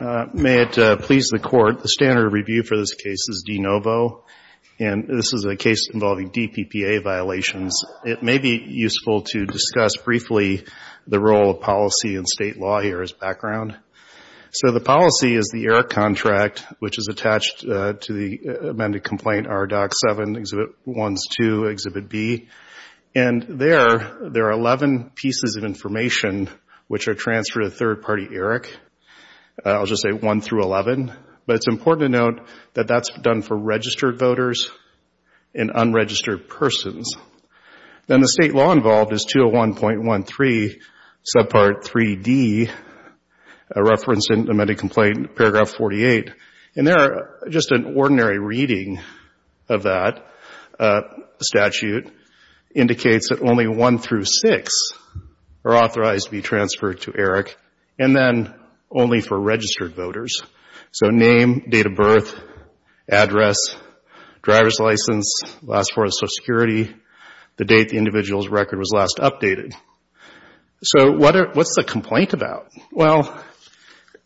May it please the Court, the standard review for this case is D-NOVO, and this is a case involving DPPA violations. It may be useful to discuss briefly the role of policy in State law here as background. So the policy is the ERIC contract, which is attached to the amended complaint R-DOC-7, Exhibit 1-2, Exhibit B. And there, there are 11 pieces of information which are transferred to the third party ERIC. I'll just say 1 through 11, but it's important to note that that's done for registered voters and unregistered persons. Then the State law involved is 201.13, Subpart 3D, a reference to the amended complaint, Paragraph 48. And there, just an ordinary reading of that statute indicates that only 1 through 6 are authorized to be transferred to ERIC, and then only for registered voters. So name, date of birth, address, driver's license, last form of Social Security, the date the individual's record was last updated. So what's the complaint about? Well,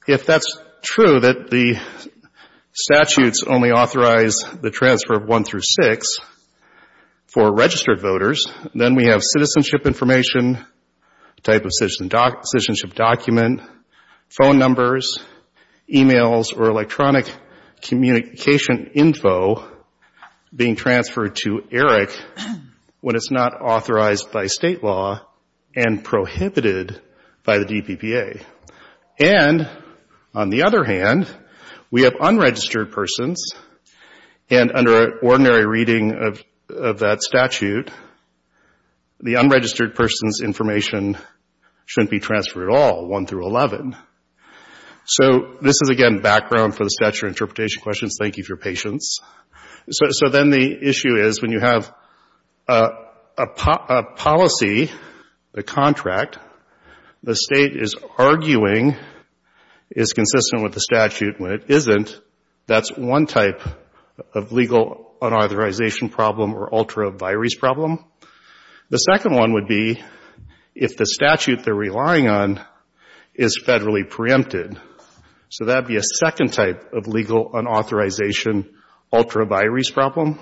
if that's true, that the statutes only authorize the transfer of 1 through 6 for registered voters, then we have citizenship information, type of citizenship document, phone numbers, e-mails, or electronic communication info being transferred to ERIC when it's not authorized by State law and prohibited by the DPPA. And on the other hand, we have unregistered persons, and under ordinary reading of that statute, the unregistered person's information shouldn't be transferred at all, 1 through 11. So this is, again, background for the statute interpretation questions. Thank you for your patience. So then the issue is when you have a policy, a contract, the State is arguing is consistent with the statute. When it isn't, that's one type of legal unauthorization problem or ultra vires problem. The second one would be if the statute they're relying on is federally preempted. So that would be a second type of legal unauthorization ultra vires problem.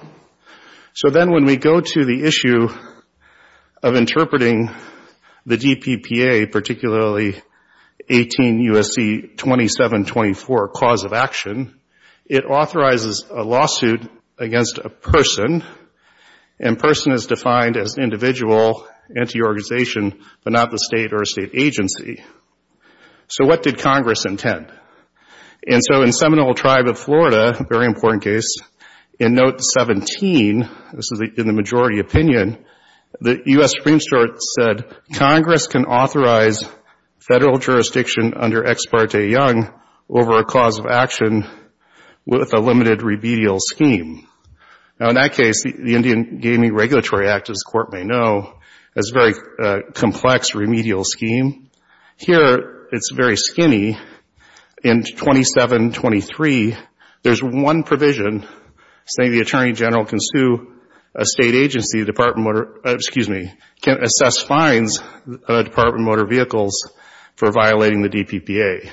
So then when we go to the issue of interpreting the DPPA, particularly 18 U.S.C. 2724 cause of action, it authorizes a lawsuit against a person, and person is defined as an individual, anti-organization, but not the State or a State agency. So what did Congress intend? And so in Seminole Tribe of Florida, a very important case, in note 17, this is in the majority opinion, the U.S. Supreme Court said Congress can authorize federal jurisdiction under Ex Parte Young over a cause of action with a limited remedial scheme. Now, in that case, the Indian Gaming Regulatory Act, as the Court may know, has a very complex remedial scheme. Here it's very skinny. In 2723, there's one provision saying the Attorney General can sue a State agency, Department of Motor, for violating the DPPA.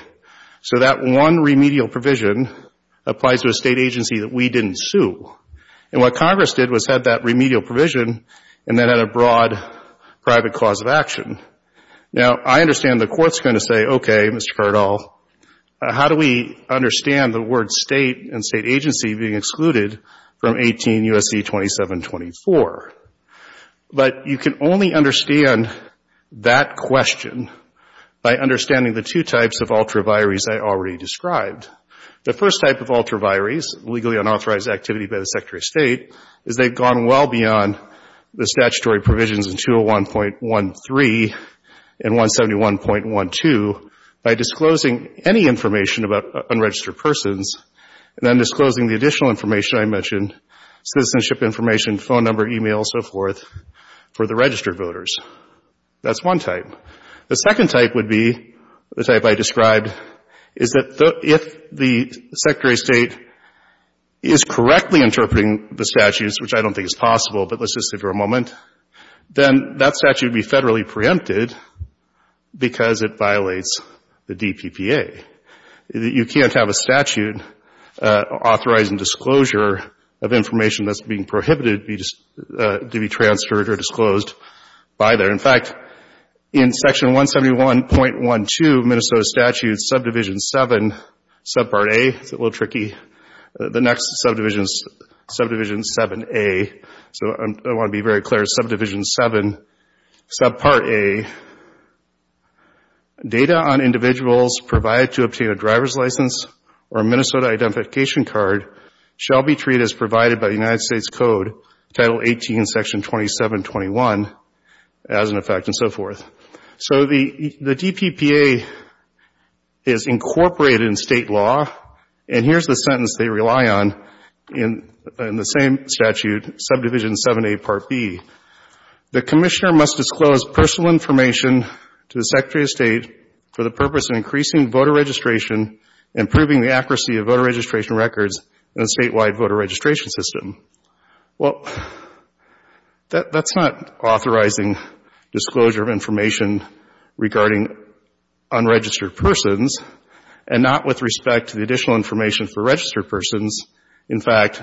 So that one remedial provision applies to a State agency that we didn't sue. And what Congress did was have that remedial provision and then had a broad private cause of action. Now, I understand the Court's going to say, okay, Mr. Cardall, how do we understand the word State and State agency being excluded from 18 U.S.C. 2724? But you can only understand that question by understanding the two types of ultraviaries I already described. The first type of ultraviaries, legally unauthorized activity by the Secretary of State, is they've gone well beyond the statutory provisions in 201.13 and 171.12 by disclosing any information about unregistered persons and then disclosing the additional information I mentioned, citizenship information, phone number, e-mail, so forth, for the registered voters. That's one type. The second type would be the type I described, is that if the Secretary of State is correctly interpreting the statutes, which I don't think is possible, but let's just say for a moment, then that statute would be federally preempted because it violates the DPPA. You can't have a statute authorizing disclosure of information that's being prohibited to be transferred or disclosed by there. In fact, in Section 171.12, Minnesota Statute Subdivision 7, Subpart A, it's a little tricky, the next Subdivision 7A, so I want to be very clear, Subdivision 7, Subpart A, data on individuals provided to obtain a driver's license or a Minnesota identification card shall be treated as provided by the United States Code, Title 18, Section 2721, as an effect, and so forth. So the DPPA is incorporated in state law, and here's the sentence they rely on in the same statute, Subdivision 7A, Part B. The commissioner must disclose personal information to the Secretary of State for the purpose of increasing voter registration and proving the accuracy of voter registration records in a statewide voter registration system. Well, that's not authorizing disclosure of information regarding unregistered persons, and not with respect to the additional information for registered persons. In fact,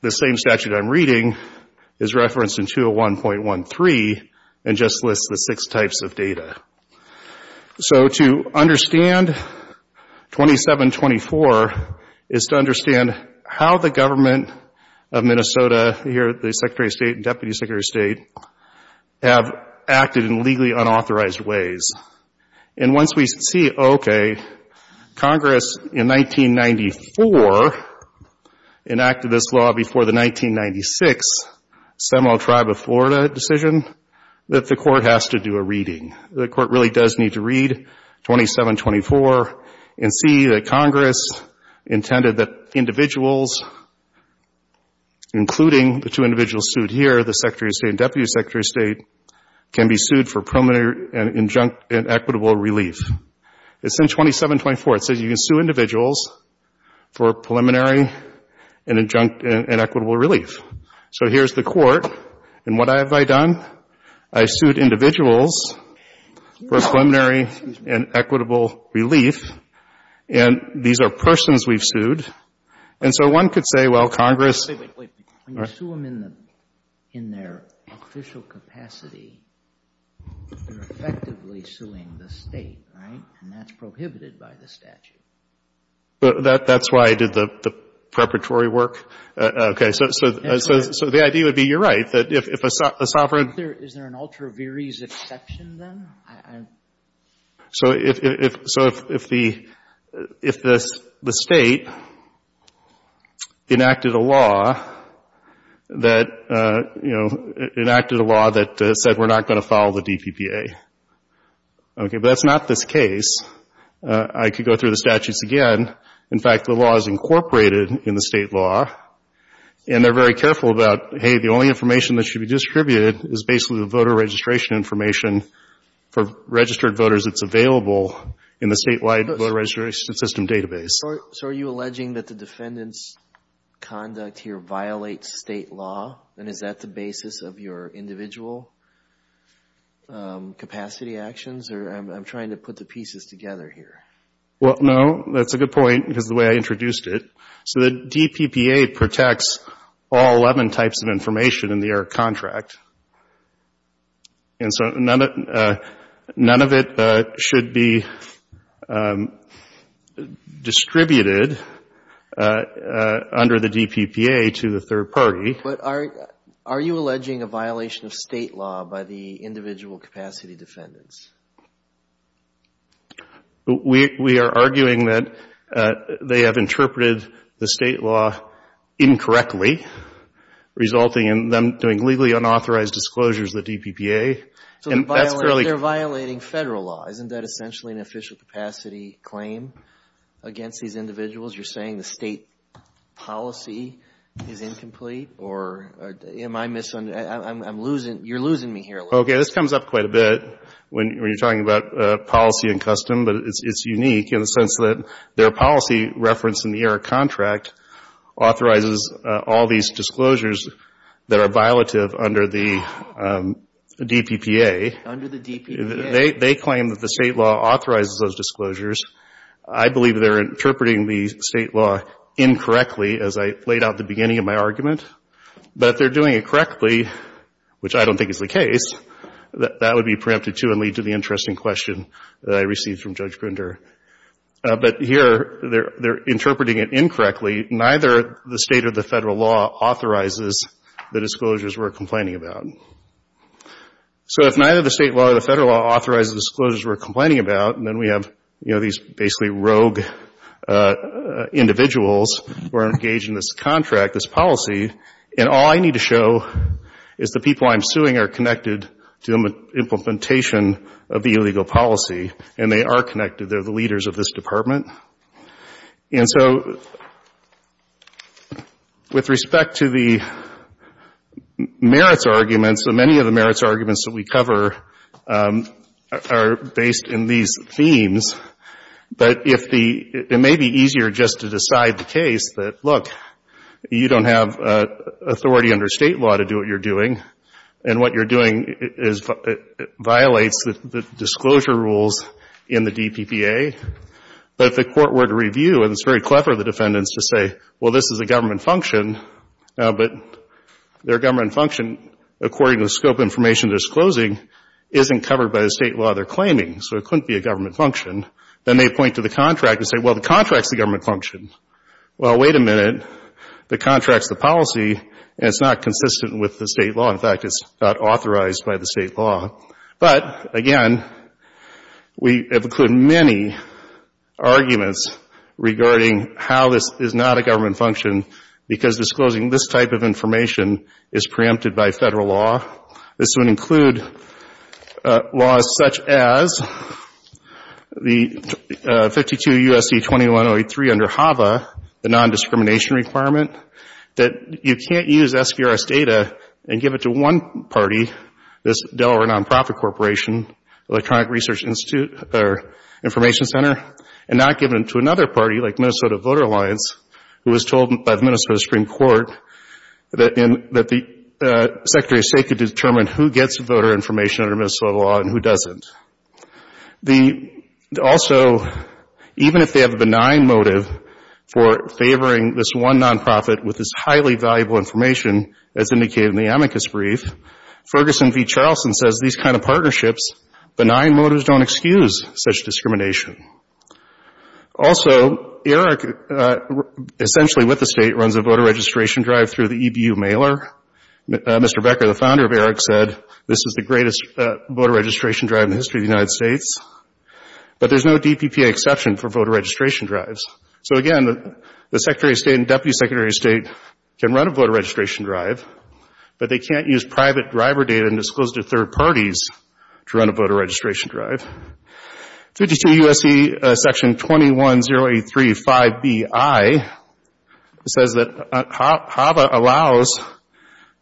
the same statute I'm reading is referenced in 201.13 and just lists the six types of data. So to understand 2724 is to understand how the government of Minnesota, here the Secretary of State and Deputy Secretary of State, have acted in legally unauthorized ways. And once we see, okay, Congress in 1994 enacted this law before the 1996 Seminole Tribe of Florida decision, that the court has to do a reading. The court really does need to read 2724 and see that Congress intended that individuals, including the two individuals sued here, the Secretary of State and Deputy Secretary of State, can be sued for preliminary and equitable relief. It's in 2724. It says you can sue individuals for preliminary and equitable relief. So here's the court, and what have I done? I've sued individuals for preliminary and equitable relief, and these are persons we've sued. And so one could say, well, Congress — When you sue them in their official capacity, you're effectively suing the State, right? And that's prohibited by the statute. That's why I did the preparatory work? Okay. So the idea would be you're right, that if a sovereign — Is there an ultra viris exception then? So if the State enacted a law that said we're not going to file the DPPA. Okay, but that's not this case. I could go through the statutes again. In fact, the law is incorporated in the State law, and they're very careful about, hey, the only information that should be distributed is basically the voter registration information for registered voters. It's available in the statewide voter registration system database. So are you alleging that the defendant's conduct here violates State law, and is that the basis of your individual capacity actions? Or I'm trying to put the pieces together here. Well, no, that's a good point because of the way I introduced it. So the DPPA protects all 11 types of information in the air contract. And so none of it should be distributed under the DPPA to the third party. But are you alleging a violation of State law by the individual capacity defendants? We are arguing that they have interpreted the State law incorrectly, resulting in them doing legally unauthorized disclosures of the DPPA. So they're violating Federal law. Isn't that essentially an official capacity claim against these individuals? You're saying the State policy is incomplete? Or am I misunderstanding? You're losing me here a little bit. Okay, this comes up quite a bit when you're talking about policy and custom, but it's unique in the sense that their policy reference in the air contract authorizes all these disclosures that are violative under the DPPA. Under the DPPA. They claim that the State law authorizes those disclosures. I believe they're interpreting the State law incorrectly, as I laid out at the beginning of my argument. But if they're doing it correctly, which I don't think is the case, that would be preempted, too, and lead to the interesting question that I received from Judge Grunder. But here they're interpreting it incorrectly. Neither the State or the Federal law authorizes the disclosures we're complaining about. So if neither the State law or the Federal law authorizes the disclosures we're complaining about, and then we have these basically rogue individuals who are engaged in this contract, this policy, and all I need to show is the people I'm suing are connected to the implementation of the illegal policy, and they are connected. They're the leaders of this department. And so with respect to the merits arguments, many of the merits arguments that we cover are based in these themes. But it may be easier just to decide the case that, look, you don't have authority under State law to do what you're doing, and what you're doing violates the disclosure rules in the DPPA. But if the Court were to review, and it's very clever of the defendants to say, well, this is a government function, but their government function, according to the scope of information disclosing, isn't covered by the State law they're claiming. So it couldn't be a government function. Then they point to the contract and say, well, the contract's the government function. Well, wait a minute. The contract's the policy, and it's not consistent with the State law. In fact, it's not authorized by the State law. But, again, we have included many arguments regarding how this is not a government function because disclosing this type of information is preempted by Federal law. This would include laws such as the 52 U.S.C. 2103 under HAVA, the non-discrimination requirement, that you can't use SBRS data and give it to one party, this Delaware Nonprofit Corporation, Electronic Research Information Center, and not give it to another party like Minnesota Voter Alliance, who was told by the Minnesota Supreme Court that the Secretary of State could determine who gets voter information under Minnesota law and who doesn't. Also, even if they have a benign motive for favoring this one nonprofit with this highly valuable information, as indicated in the amicus brief, Ferguson v. Charleston says these kind of partnerships, benign motives don't excuse such discrimination. Also, Eric, essentially with the State, runs a voter registration drive through the EBU mailer. Mr. Becker, the founder of Eric, said this is the greatest voter registration drive in the history of the United States. But there's no DPPA exception for voter registration drives. So, again, the Secretary of State and Deputy Secretary of State can run a voter registration drive, but they can't use private driver data and disclose to third parties to run a voter registration drive. 52 U.S.C. Section 21-083-5Bi says that HAVA allows,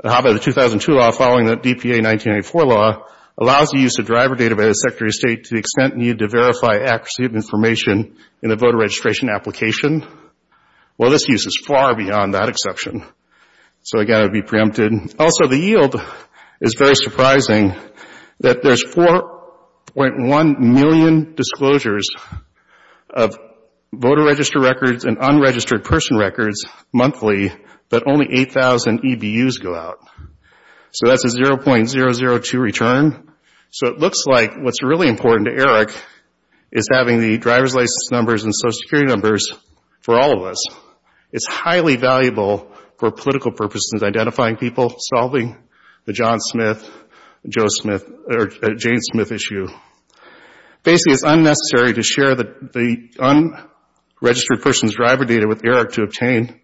HAVA, the 2002 law following the DPA 1984 law, allows the use of driver data by the Secretary of State to the extent needed to verify accuracy of information in a voter registration application. Well, this use is far beyond that exception. So, again, it would be preempted. Also, the yield is very surprising that there's 4.1 million disclosures of voter register records and unregistered person records monthly, but only 8,000 EBUs go out. So that's a 0.002 return. So it looks like what's really important to Eric is having the driver's license numbers and Social Security numbers for all of us. It's highly valuable for political purposes, identifying people, solving the John Smith, Joe Smith, or Jane Smith issue. Basically, it's unnecessary to share the unregistered person's driver data with Eric to obtain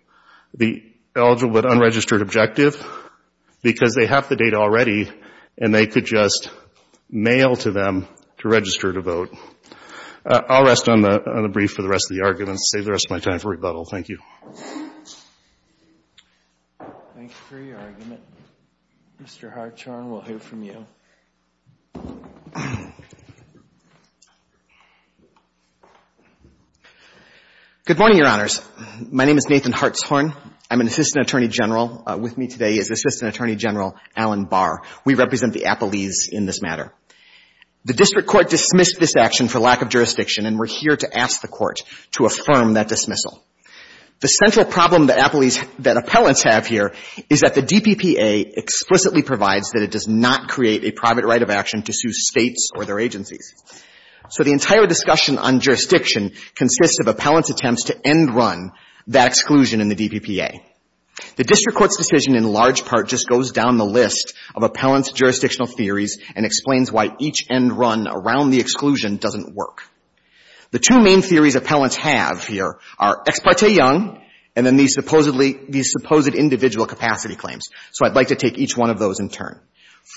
the eligible but unregistered objective because they have the data already and they could just mail to them to register to vote. I'll rest on the brief for the rest of the argument and save the rest of my time for rebuttal. Thank you. Thank you for your argument. Mr. Hartshorn, we'll hear from you. Good morning, Your Honors. My name is Nathan Hartshorn. I'm an Assistant Attorney General. With me today is Assistant Attorney General Alan Barr. We represent the Appalese in this matter. The district court dismissed this action for lack of jurisdiction, and we're here to ask the court to affirm that dismissal. The central problem that Appalese, that appellants have here, is that the DPPA explicitly provides that it does not create a private right of action to sue states or their agencies. So the entire discussion on jurisdiction consists of appellants' attempts to end run that exclusion in the DPPA. The district court's decision in large part just goes down the list of appellants' and explains why each end run around the exclusion doesn't work. The two main theories appellants have here are Ex Parte Young and then these supposed individual capacity claims. So I'd like to take each one of those in turn.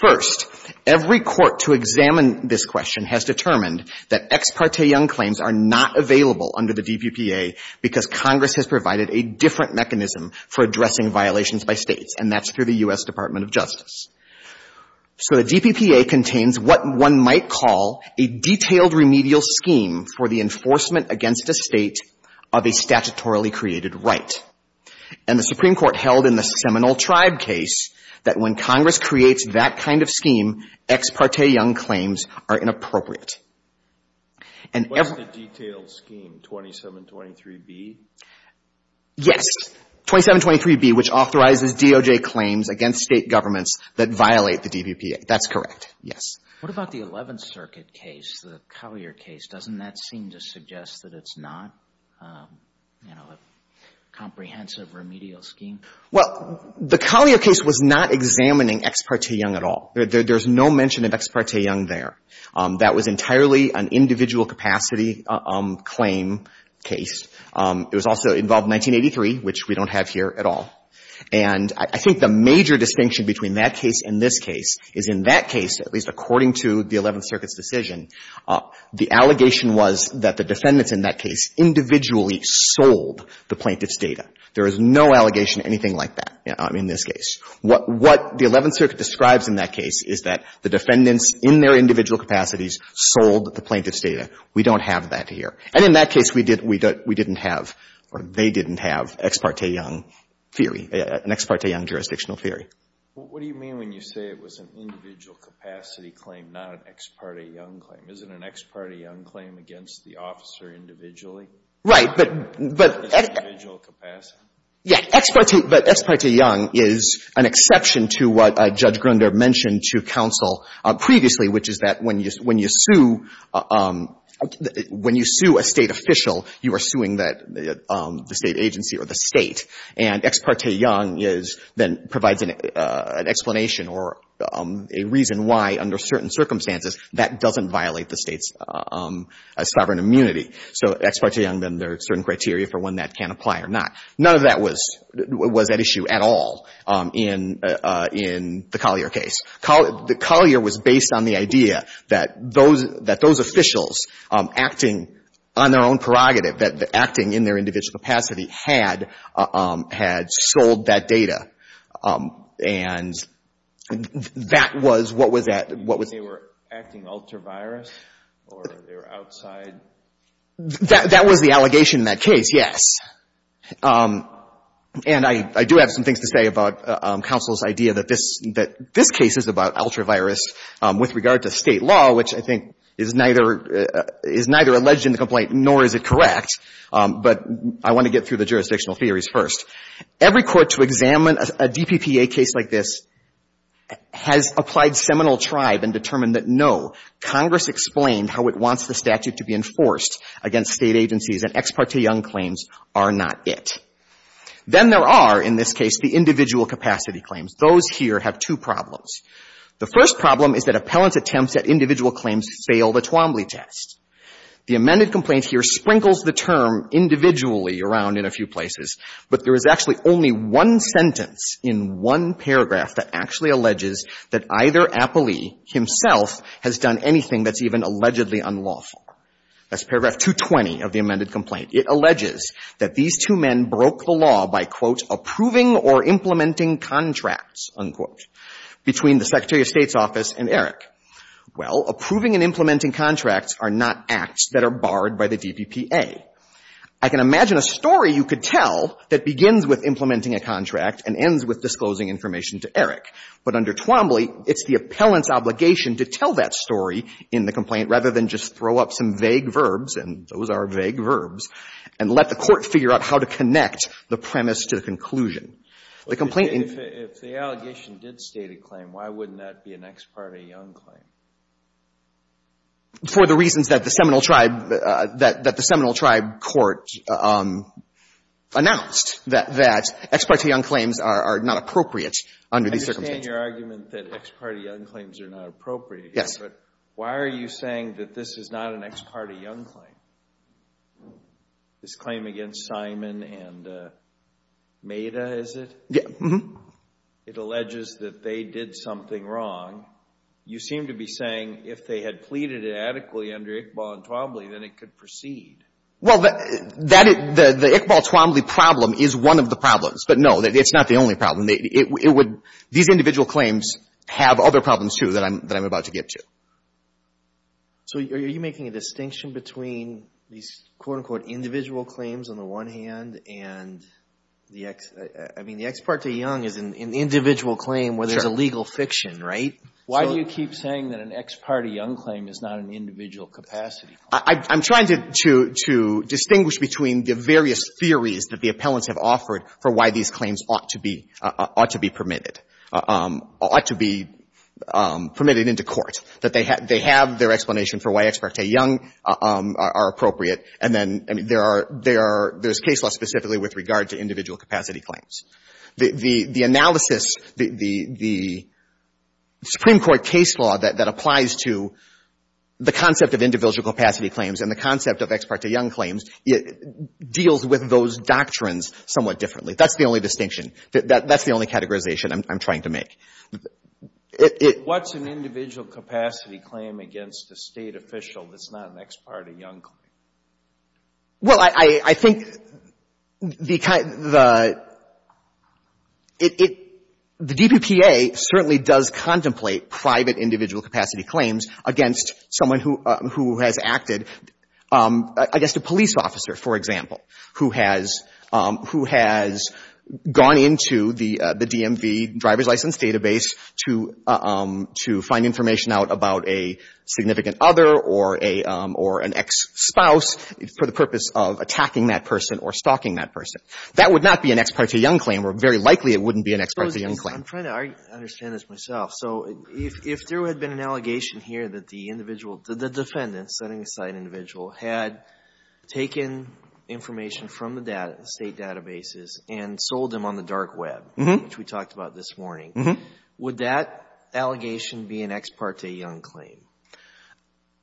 First, every court to examine this question has determined that Ex Parte Young claims are not available under the DPPA because Congress has provided a different mechanism for addressing violations by states, and that's through the U.S. Department of Justice. So the DPPA contains what one might call a detailed remedial scheme for the enforcement against a state of a statutorily created right. And the Supreme Court held in the Seminole Tribe case that when Congress creates that kind of scheme, Ex Parte Young claims are inappropriate. What's the detailed scheme, 2723B? Yes, 2723B, which authorizes DOJ claims against state governments that violate the DPPA. That's correct, yes. What about the 11th Circuit case, the Collier case? Doesn't that seem to suggest that it's not, you know, a comprehensive remedial scheme? Well, the Collier case was not examining Ex Parte Young at all. There's no mention of Ex Parte Young there. That was entirely an individual capacity claim case. It was also involved in 1983, which we don't have here at all. And I think the major distinction between that case and this case is in that case, at least according to the 11th Circuit's decision, the allegation was that the defendants in that case individually sold the plaintiff's data. There is no allegation of anything like that in this case. What the 11th Circuit describes in that case is that the defendants in their individual capacities sold the plaintiff's data. We don't have that here. And in that case, we didn't have, or they didn't have, Ex Parte Young theory, an Ex Parte Young jurisdictional theory. What do you mean when you say it was an individual capacity claim, not an Ex Parte Young claim? Is it an Ex Parte Young claim against the officer individually? Right, but, but. As individual capacity? Yeah, Ex Parte, but Ex Parte Young is an exception to what Judge Grunder mentioned to counsel previously, which is that when you, when you sue, when you sue a State official, you are suing that, the State agency or the State. And Ex Parte Young is, then provides an explanation or a reason why, under certain circumstances, that doesn't violate the State's sovereign immunity. So Ex Parte Young, then there are certain criteria for when that can apply or not. None of that was, was at issue at all in, in the Collier case. Collier, the Collier was based on the idea that those, that those officials acting on their own prerogative, that, that acting in their individual capacity had, had sold that data. And that was what was at, what was. You mean they were acting ultra-virus, or they were outside? That, that was the allegation in that case, yes. And I, I do have some things to say about counsel's idea that this, that this case is about ultra-virus with regard to State law, which I think is neither, is neither alleged in the complaint, nor is it correct. But I want to get through the jurisdictional theories first. Every court to examine a DPPA case like this has applied seminal tribe and determined that, no, Congress explained how it wants the statute to be enforced against State agencies, and Ex Parte Young claims are not it. Then there are, in this case, the individual capacity claims. Those here have two problems. The first problem is that appellant's attempts at individual claims fail the Twombly test. The amended complaint here sprinkles the term individually around in a few places, but there is actually only one sentence in one paragraph that actually alleges that either appellee himself has done anything that's even allegedly unlawful. That's paragraph 220 of the amended complaint. It alleges that these two men broke the law by, quote, approving or implementing contracts, unquote, between the Secretary of State's office and Eric. Well, approving and implementing contracts are not acts that are barred by the DPPA. I can imagine a story you could tell that begins with implementing a contract and ends with disclosing information to Eric. But under Twombly, it's the appellant's obligation to tell that story in the complaint rather than just throw up some vague verbs, and those are vague verbs, and let the Court figure out how to connect the premise to the conclusion. The complaint — If the allegation did state a claim, why wouldn't that be an ex parte young claim? For the reasons that the Seminole Tribe — that the Seminole Tribe Court announced, that ex parte young claims are not appropriate under these circumstances. I understand your argument that ex parte young claims are not appropriate. Yes. But why are you saying that this is not an ex parte young claim? This claim against Simon and Meda, is it? Yes. It alleges that they did something wrong. You seem to be saying if they had pleaded it adequately under Iqbal and Twombly, then it could proceed. Well, that — the Iqbal-Twombly problem is one of the problems. But, no, it's not the only problem. It would — these individual claims have other problems, too, that I'm about to get to. So are you making a distinction between these, quote, unquote, individual claims on the one hand and the ex — I mean, the ex parte young is an individual claim where there's a legal fiction, right? Why do you keep saying that an ex parte young claim is not an individual capacity claim? I'm trying to distinguish between the various theories that the appellants have for why these claims ought to be — ought to be permitted — ought to be permitted into court, that they have their explanation for why ex parte young are appropriate. And then, I mean, there are — there's case law specifically with regard to individual capacity claims. The analysis — the Supreme Court case law that applies to the concept of individual capacity claims and the concept of ex parte young claims deals with those doctrines somewhat differently. That's the only distinction. That's the only categorization I'm trying to make. It — What's an individual capacity claim against a State official that's not an ex parte young claim? Well, I — I think the kind — the — it — the DPPA certainly does contemplate private individual capacity claims against someone who — who has acted — I guess a police officer, for example, who has — who has gone into the DMV driver's license database to — to find information out about a significant other or a — or an ex-spouse for the purpose of attacking that person or stalking that person. That would not be an ex parte young claim, or very likely it wouldn't be an ex parte young claim. I'm trying to understand this myself. So if there had been an allegation here that the individual — the defendant, setting aside an individual, had taken information from the data — the State databases and sold them on the dark web, which we talked about this morning, would that allegation be an ex parte young claim?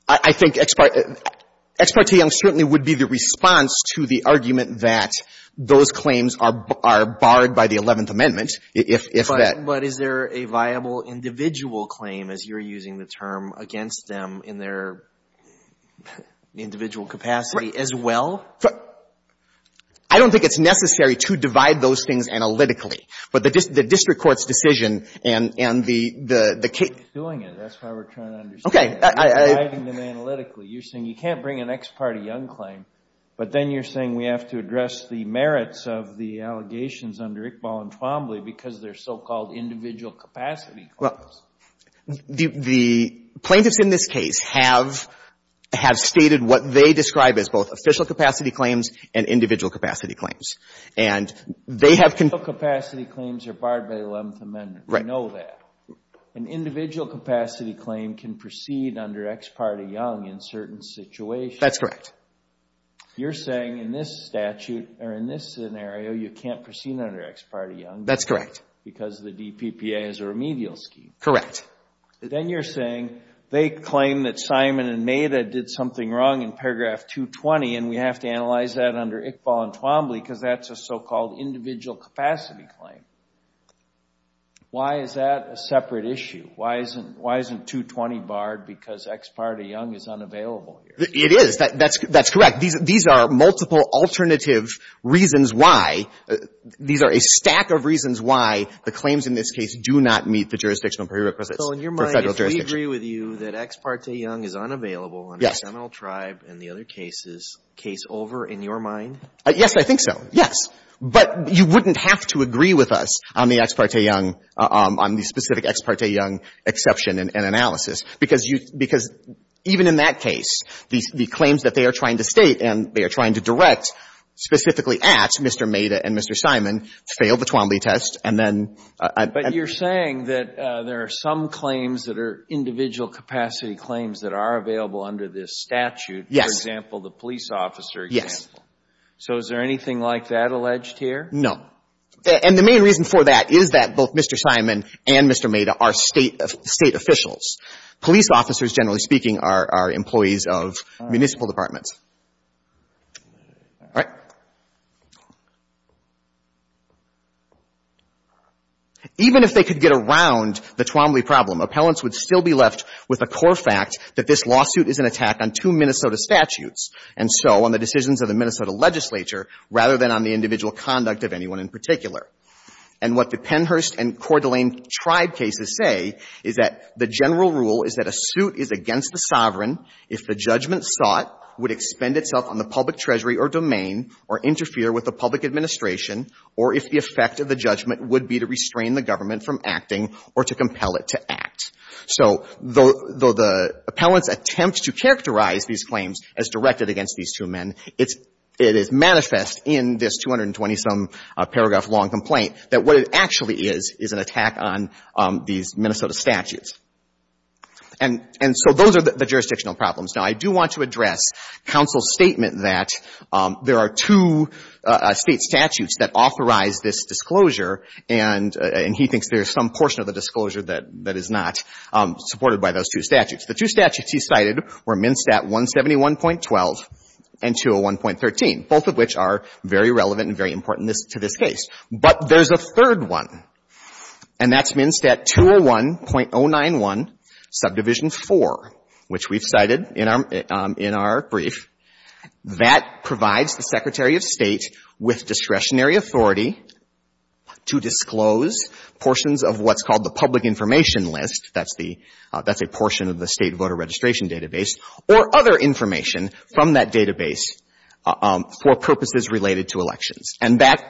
I think ex parte — ex parte young certainly would be the response to the argument that those claims are — are barred by the Eleventh Amendment if — if that — But is there a viable individual claim, as you're using the term, against them in their individual capacity as well? I don't think it's necessary to divide those things analytically. But the — the district court's decision and — and the — the — You're doing it. That's why we're trying to understand it. Okay. I — I — You're dividing them analytically. You're saying you can't bring an ex parte young claim, but then you're saying we have to address the merits of the allegations under Iqbal and Twombly because they're so-called individual capacity claims. Well, the — the plaintiffs in this case have — have stated what they describe as both official capacity claims and individual capacity claims. And they have — Individual capacity claims are barred by the Eleventh Amendment. Right. We know that. An individual capacity claim can proceed under ex parte young in certain situations. That's correct. You're saying in this statute, or in this scenario, you can't proceed under ex parte young. That's correct. Because the DPPA is a remedial scheme. Then you're saying they claim that Simon and Maida did something wrong in paragraph 220, and we have to analyze that under Iqbal and Twombly because that's a so-called individual capacity claim. Why is that a separate issue? Why isn't — why isn't 220 barred because ex parte young is unavailable here? It is. That's — that's correct. These — these are multiple alternative reasons why. These are a stack of reasons why the claims in this case do not meet the jurisdictional prerequisites for Federal jurisdiction. So in your mind, if we agree with you that ex parte young is unavailable under Seminole Tribe and the other cases, case over in your mind? Yes, I think so. Yes. But you wouldn't have to agree with us on the ex parte young — on the specific ex parte young exception and analysis. Because you — because even in that case, the claims that they are trying to state and they are trying to direct specifically at Mr. Maida and Mr. Simon fail the Twombly test, and then — But you're saying that there are some claims that are individual capacity claims that are available under this statute. Yes. For example, the police officer example. So is there anything like that alleged here? No. And the main reason for that is that both Mr. Simon and Mr. Maida are State officials. Police officers, generally speaking, are employees of municipal departments. All right. Even if they could get around the Twombly problem, appellants would still be left with a core fact that this lawsuit is an attack on two Minnesota statutes, and so on the decisions of the Minnesota legislature rather than on the individual conduct of anyone in particular. And what the Pennhurst and Coeur d'Alene Tribe cases say is that the general rule is that a suit is against the sovereign if the judgment sought would expend itself on the public treasury or domain or interfere with the public administration or if the effect of the judgment would be to restrain the government from acting or to compel it to act. So though the appellants attempt to characterize these claims as directed against these two men, it is manifest in this 220-some-paragraph-long complaint that what it actually is is an attack on these Minnesota statutes. And so those are the jurisdictional problems. Now, I do want to address counsel's statement that there are two State statutes that authorize this disclosure, and he thinks there is some portion of the disclosure that is not supported by those two statutes. The two statutes he cited were MnSTAT 171.12 and 201.13, both of which are very relevant and very important to this case. But there's a third one, and that's MnSTAT 201.091, Subdivision 4, which we've cited in our brief, that provides the Secretary of State with discretionary authority to disclose portions of what's called the public information list, that's a portion of the State voter registration database, or other information from that database for purposes related to elections. And that,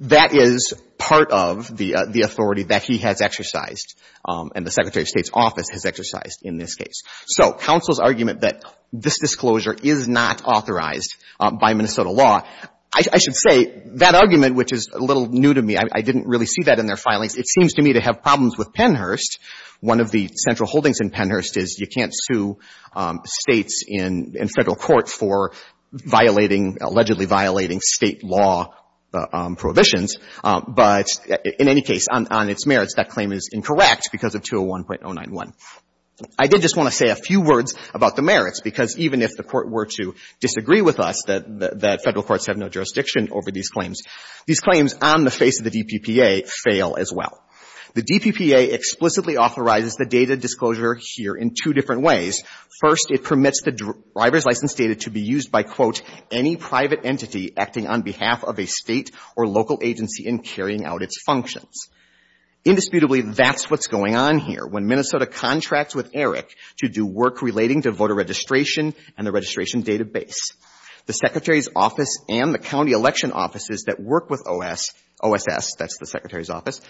that is part of the authority that he has exercised and the Secretary of State's office has exercised in this case. So counsel's argument that this disclosure is not authorized by Minnesota law, I should say that argument, which is a little new to me, I didn't really see that in their filings, it seems to me to have problems with Pennhurst. One of the central holdings in Pennhurst is you can't sue States in Federal Court for violating, allegedly violating State law prohibitions. But in any case, on its merits, that claim is incorrect because of 201.091. I did just want to say a few words about the merits, because even if the Court were to disagree with us that Federal courts have no jurisdiction over these claims, these claims on the face of the DPPA fail as well. The DPPA explicitly authorizes the data disclosure here in two different ways. First, it permits the driver's license data to be used by, quote, any private entity acting on behalf of a State or local agency in carrying out its functions. Indisputably, that's what's going on here when Minnesota contracts with ERIC to do work relating to voter registration and the registration database. The Secretary's office and the county election offices that work with OS, OSS, that's the Secretary's office,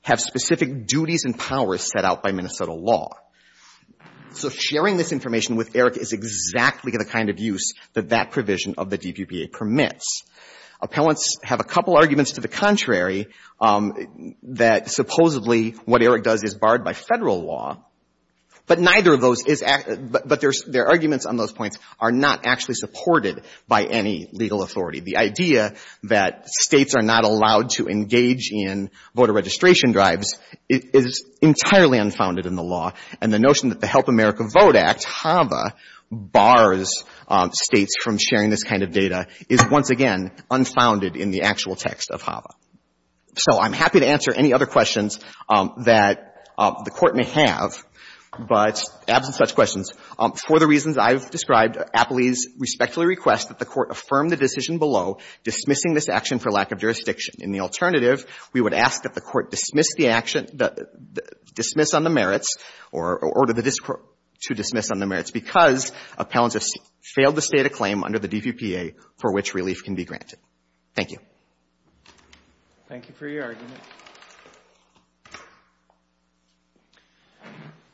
have specific duties and powers set out by Minnesota law. So sharing this information with ERIC is exactly the kind of use that that provision of the DPPA permits. Appellants have a couple arguments to the contrary, that supposedly what ERIC does is barred by Federal law, but neither of those is act — but their arguments on those points are not actually supported by any legal authority. The idea that States are not allowed to engage in voter registration drives is entirely unfounded in the law, and the notion that the Help America Vote Act, HAVA, bars States from sharing this kind of data is once again unfounded in the actual text of HAVA. So I'm happy to answer any other questions that the Court may have, but absent such questions, for the reasons I've described, Appellees respectfully request that the Court affirm the decision below dismissing this action for lack of jurisdiction. In the alternative, we would ask that the Court dismiss the action — dismiss on the merits or order this Court to dismiss on the merits because appellants have failed to state a claim under the DPPA for which relief can be granted. Thank you. Thank you for your argument.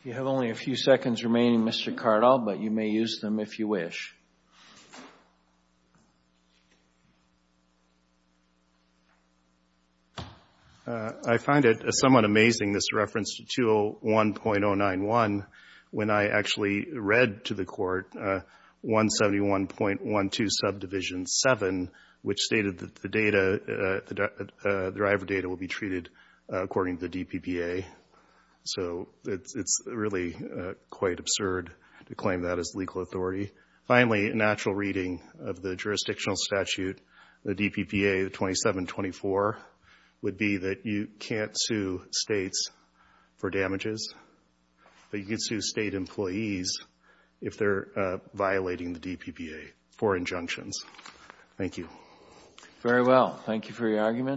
We have only a few seconds remaining, Mr. Cardall, but you may use them if you wish. I find it somewhat amazing, this reference to 201.091, when I actually read to the Court 171.12 subdivision 7, which stated that the data — the driver data will be treated according to the DPPA. So it's really quite absurd to claim that as legal authority. Finally, a natural reading of the jurisdictional statute, the DPPA 2724, would be that you can't sue States for damages, but you can sue State employees if they're violating the DPPA for injunctions. Thank you. Very well. Thank you for your argument.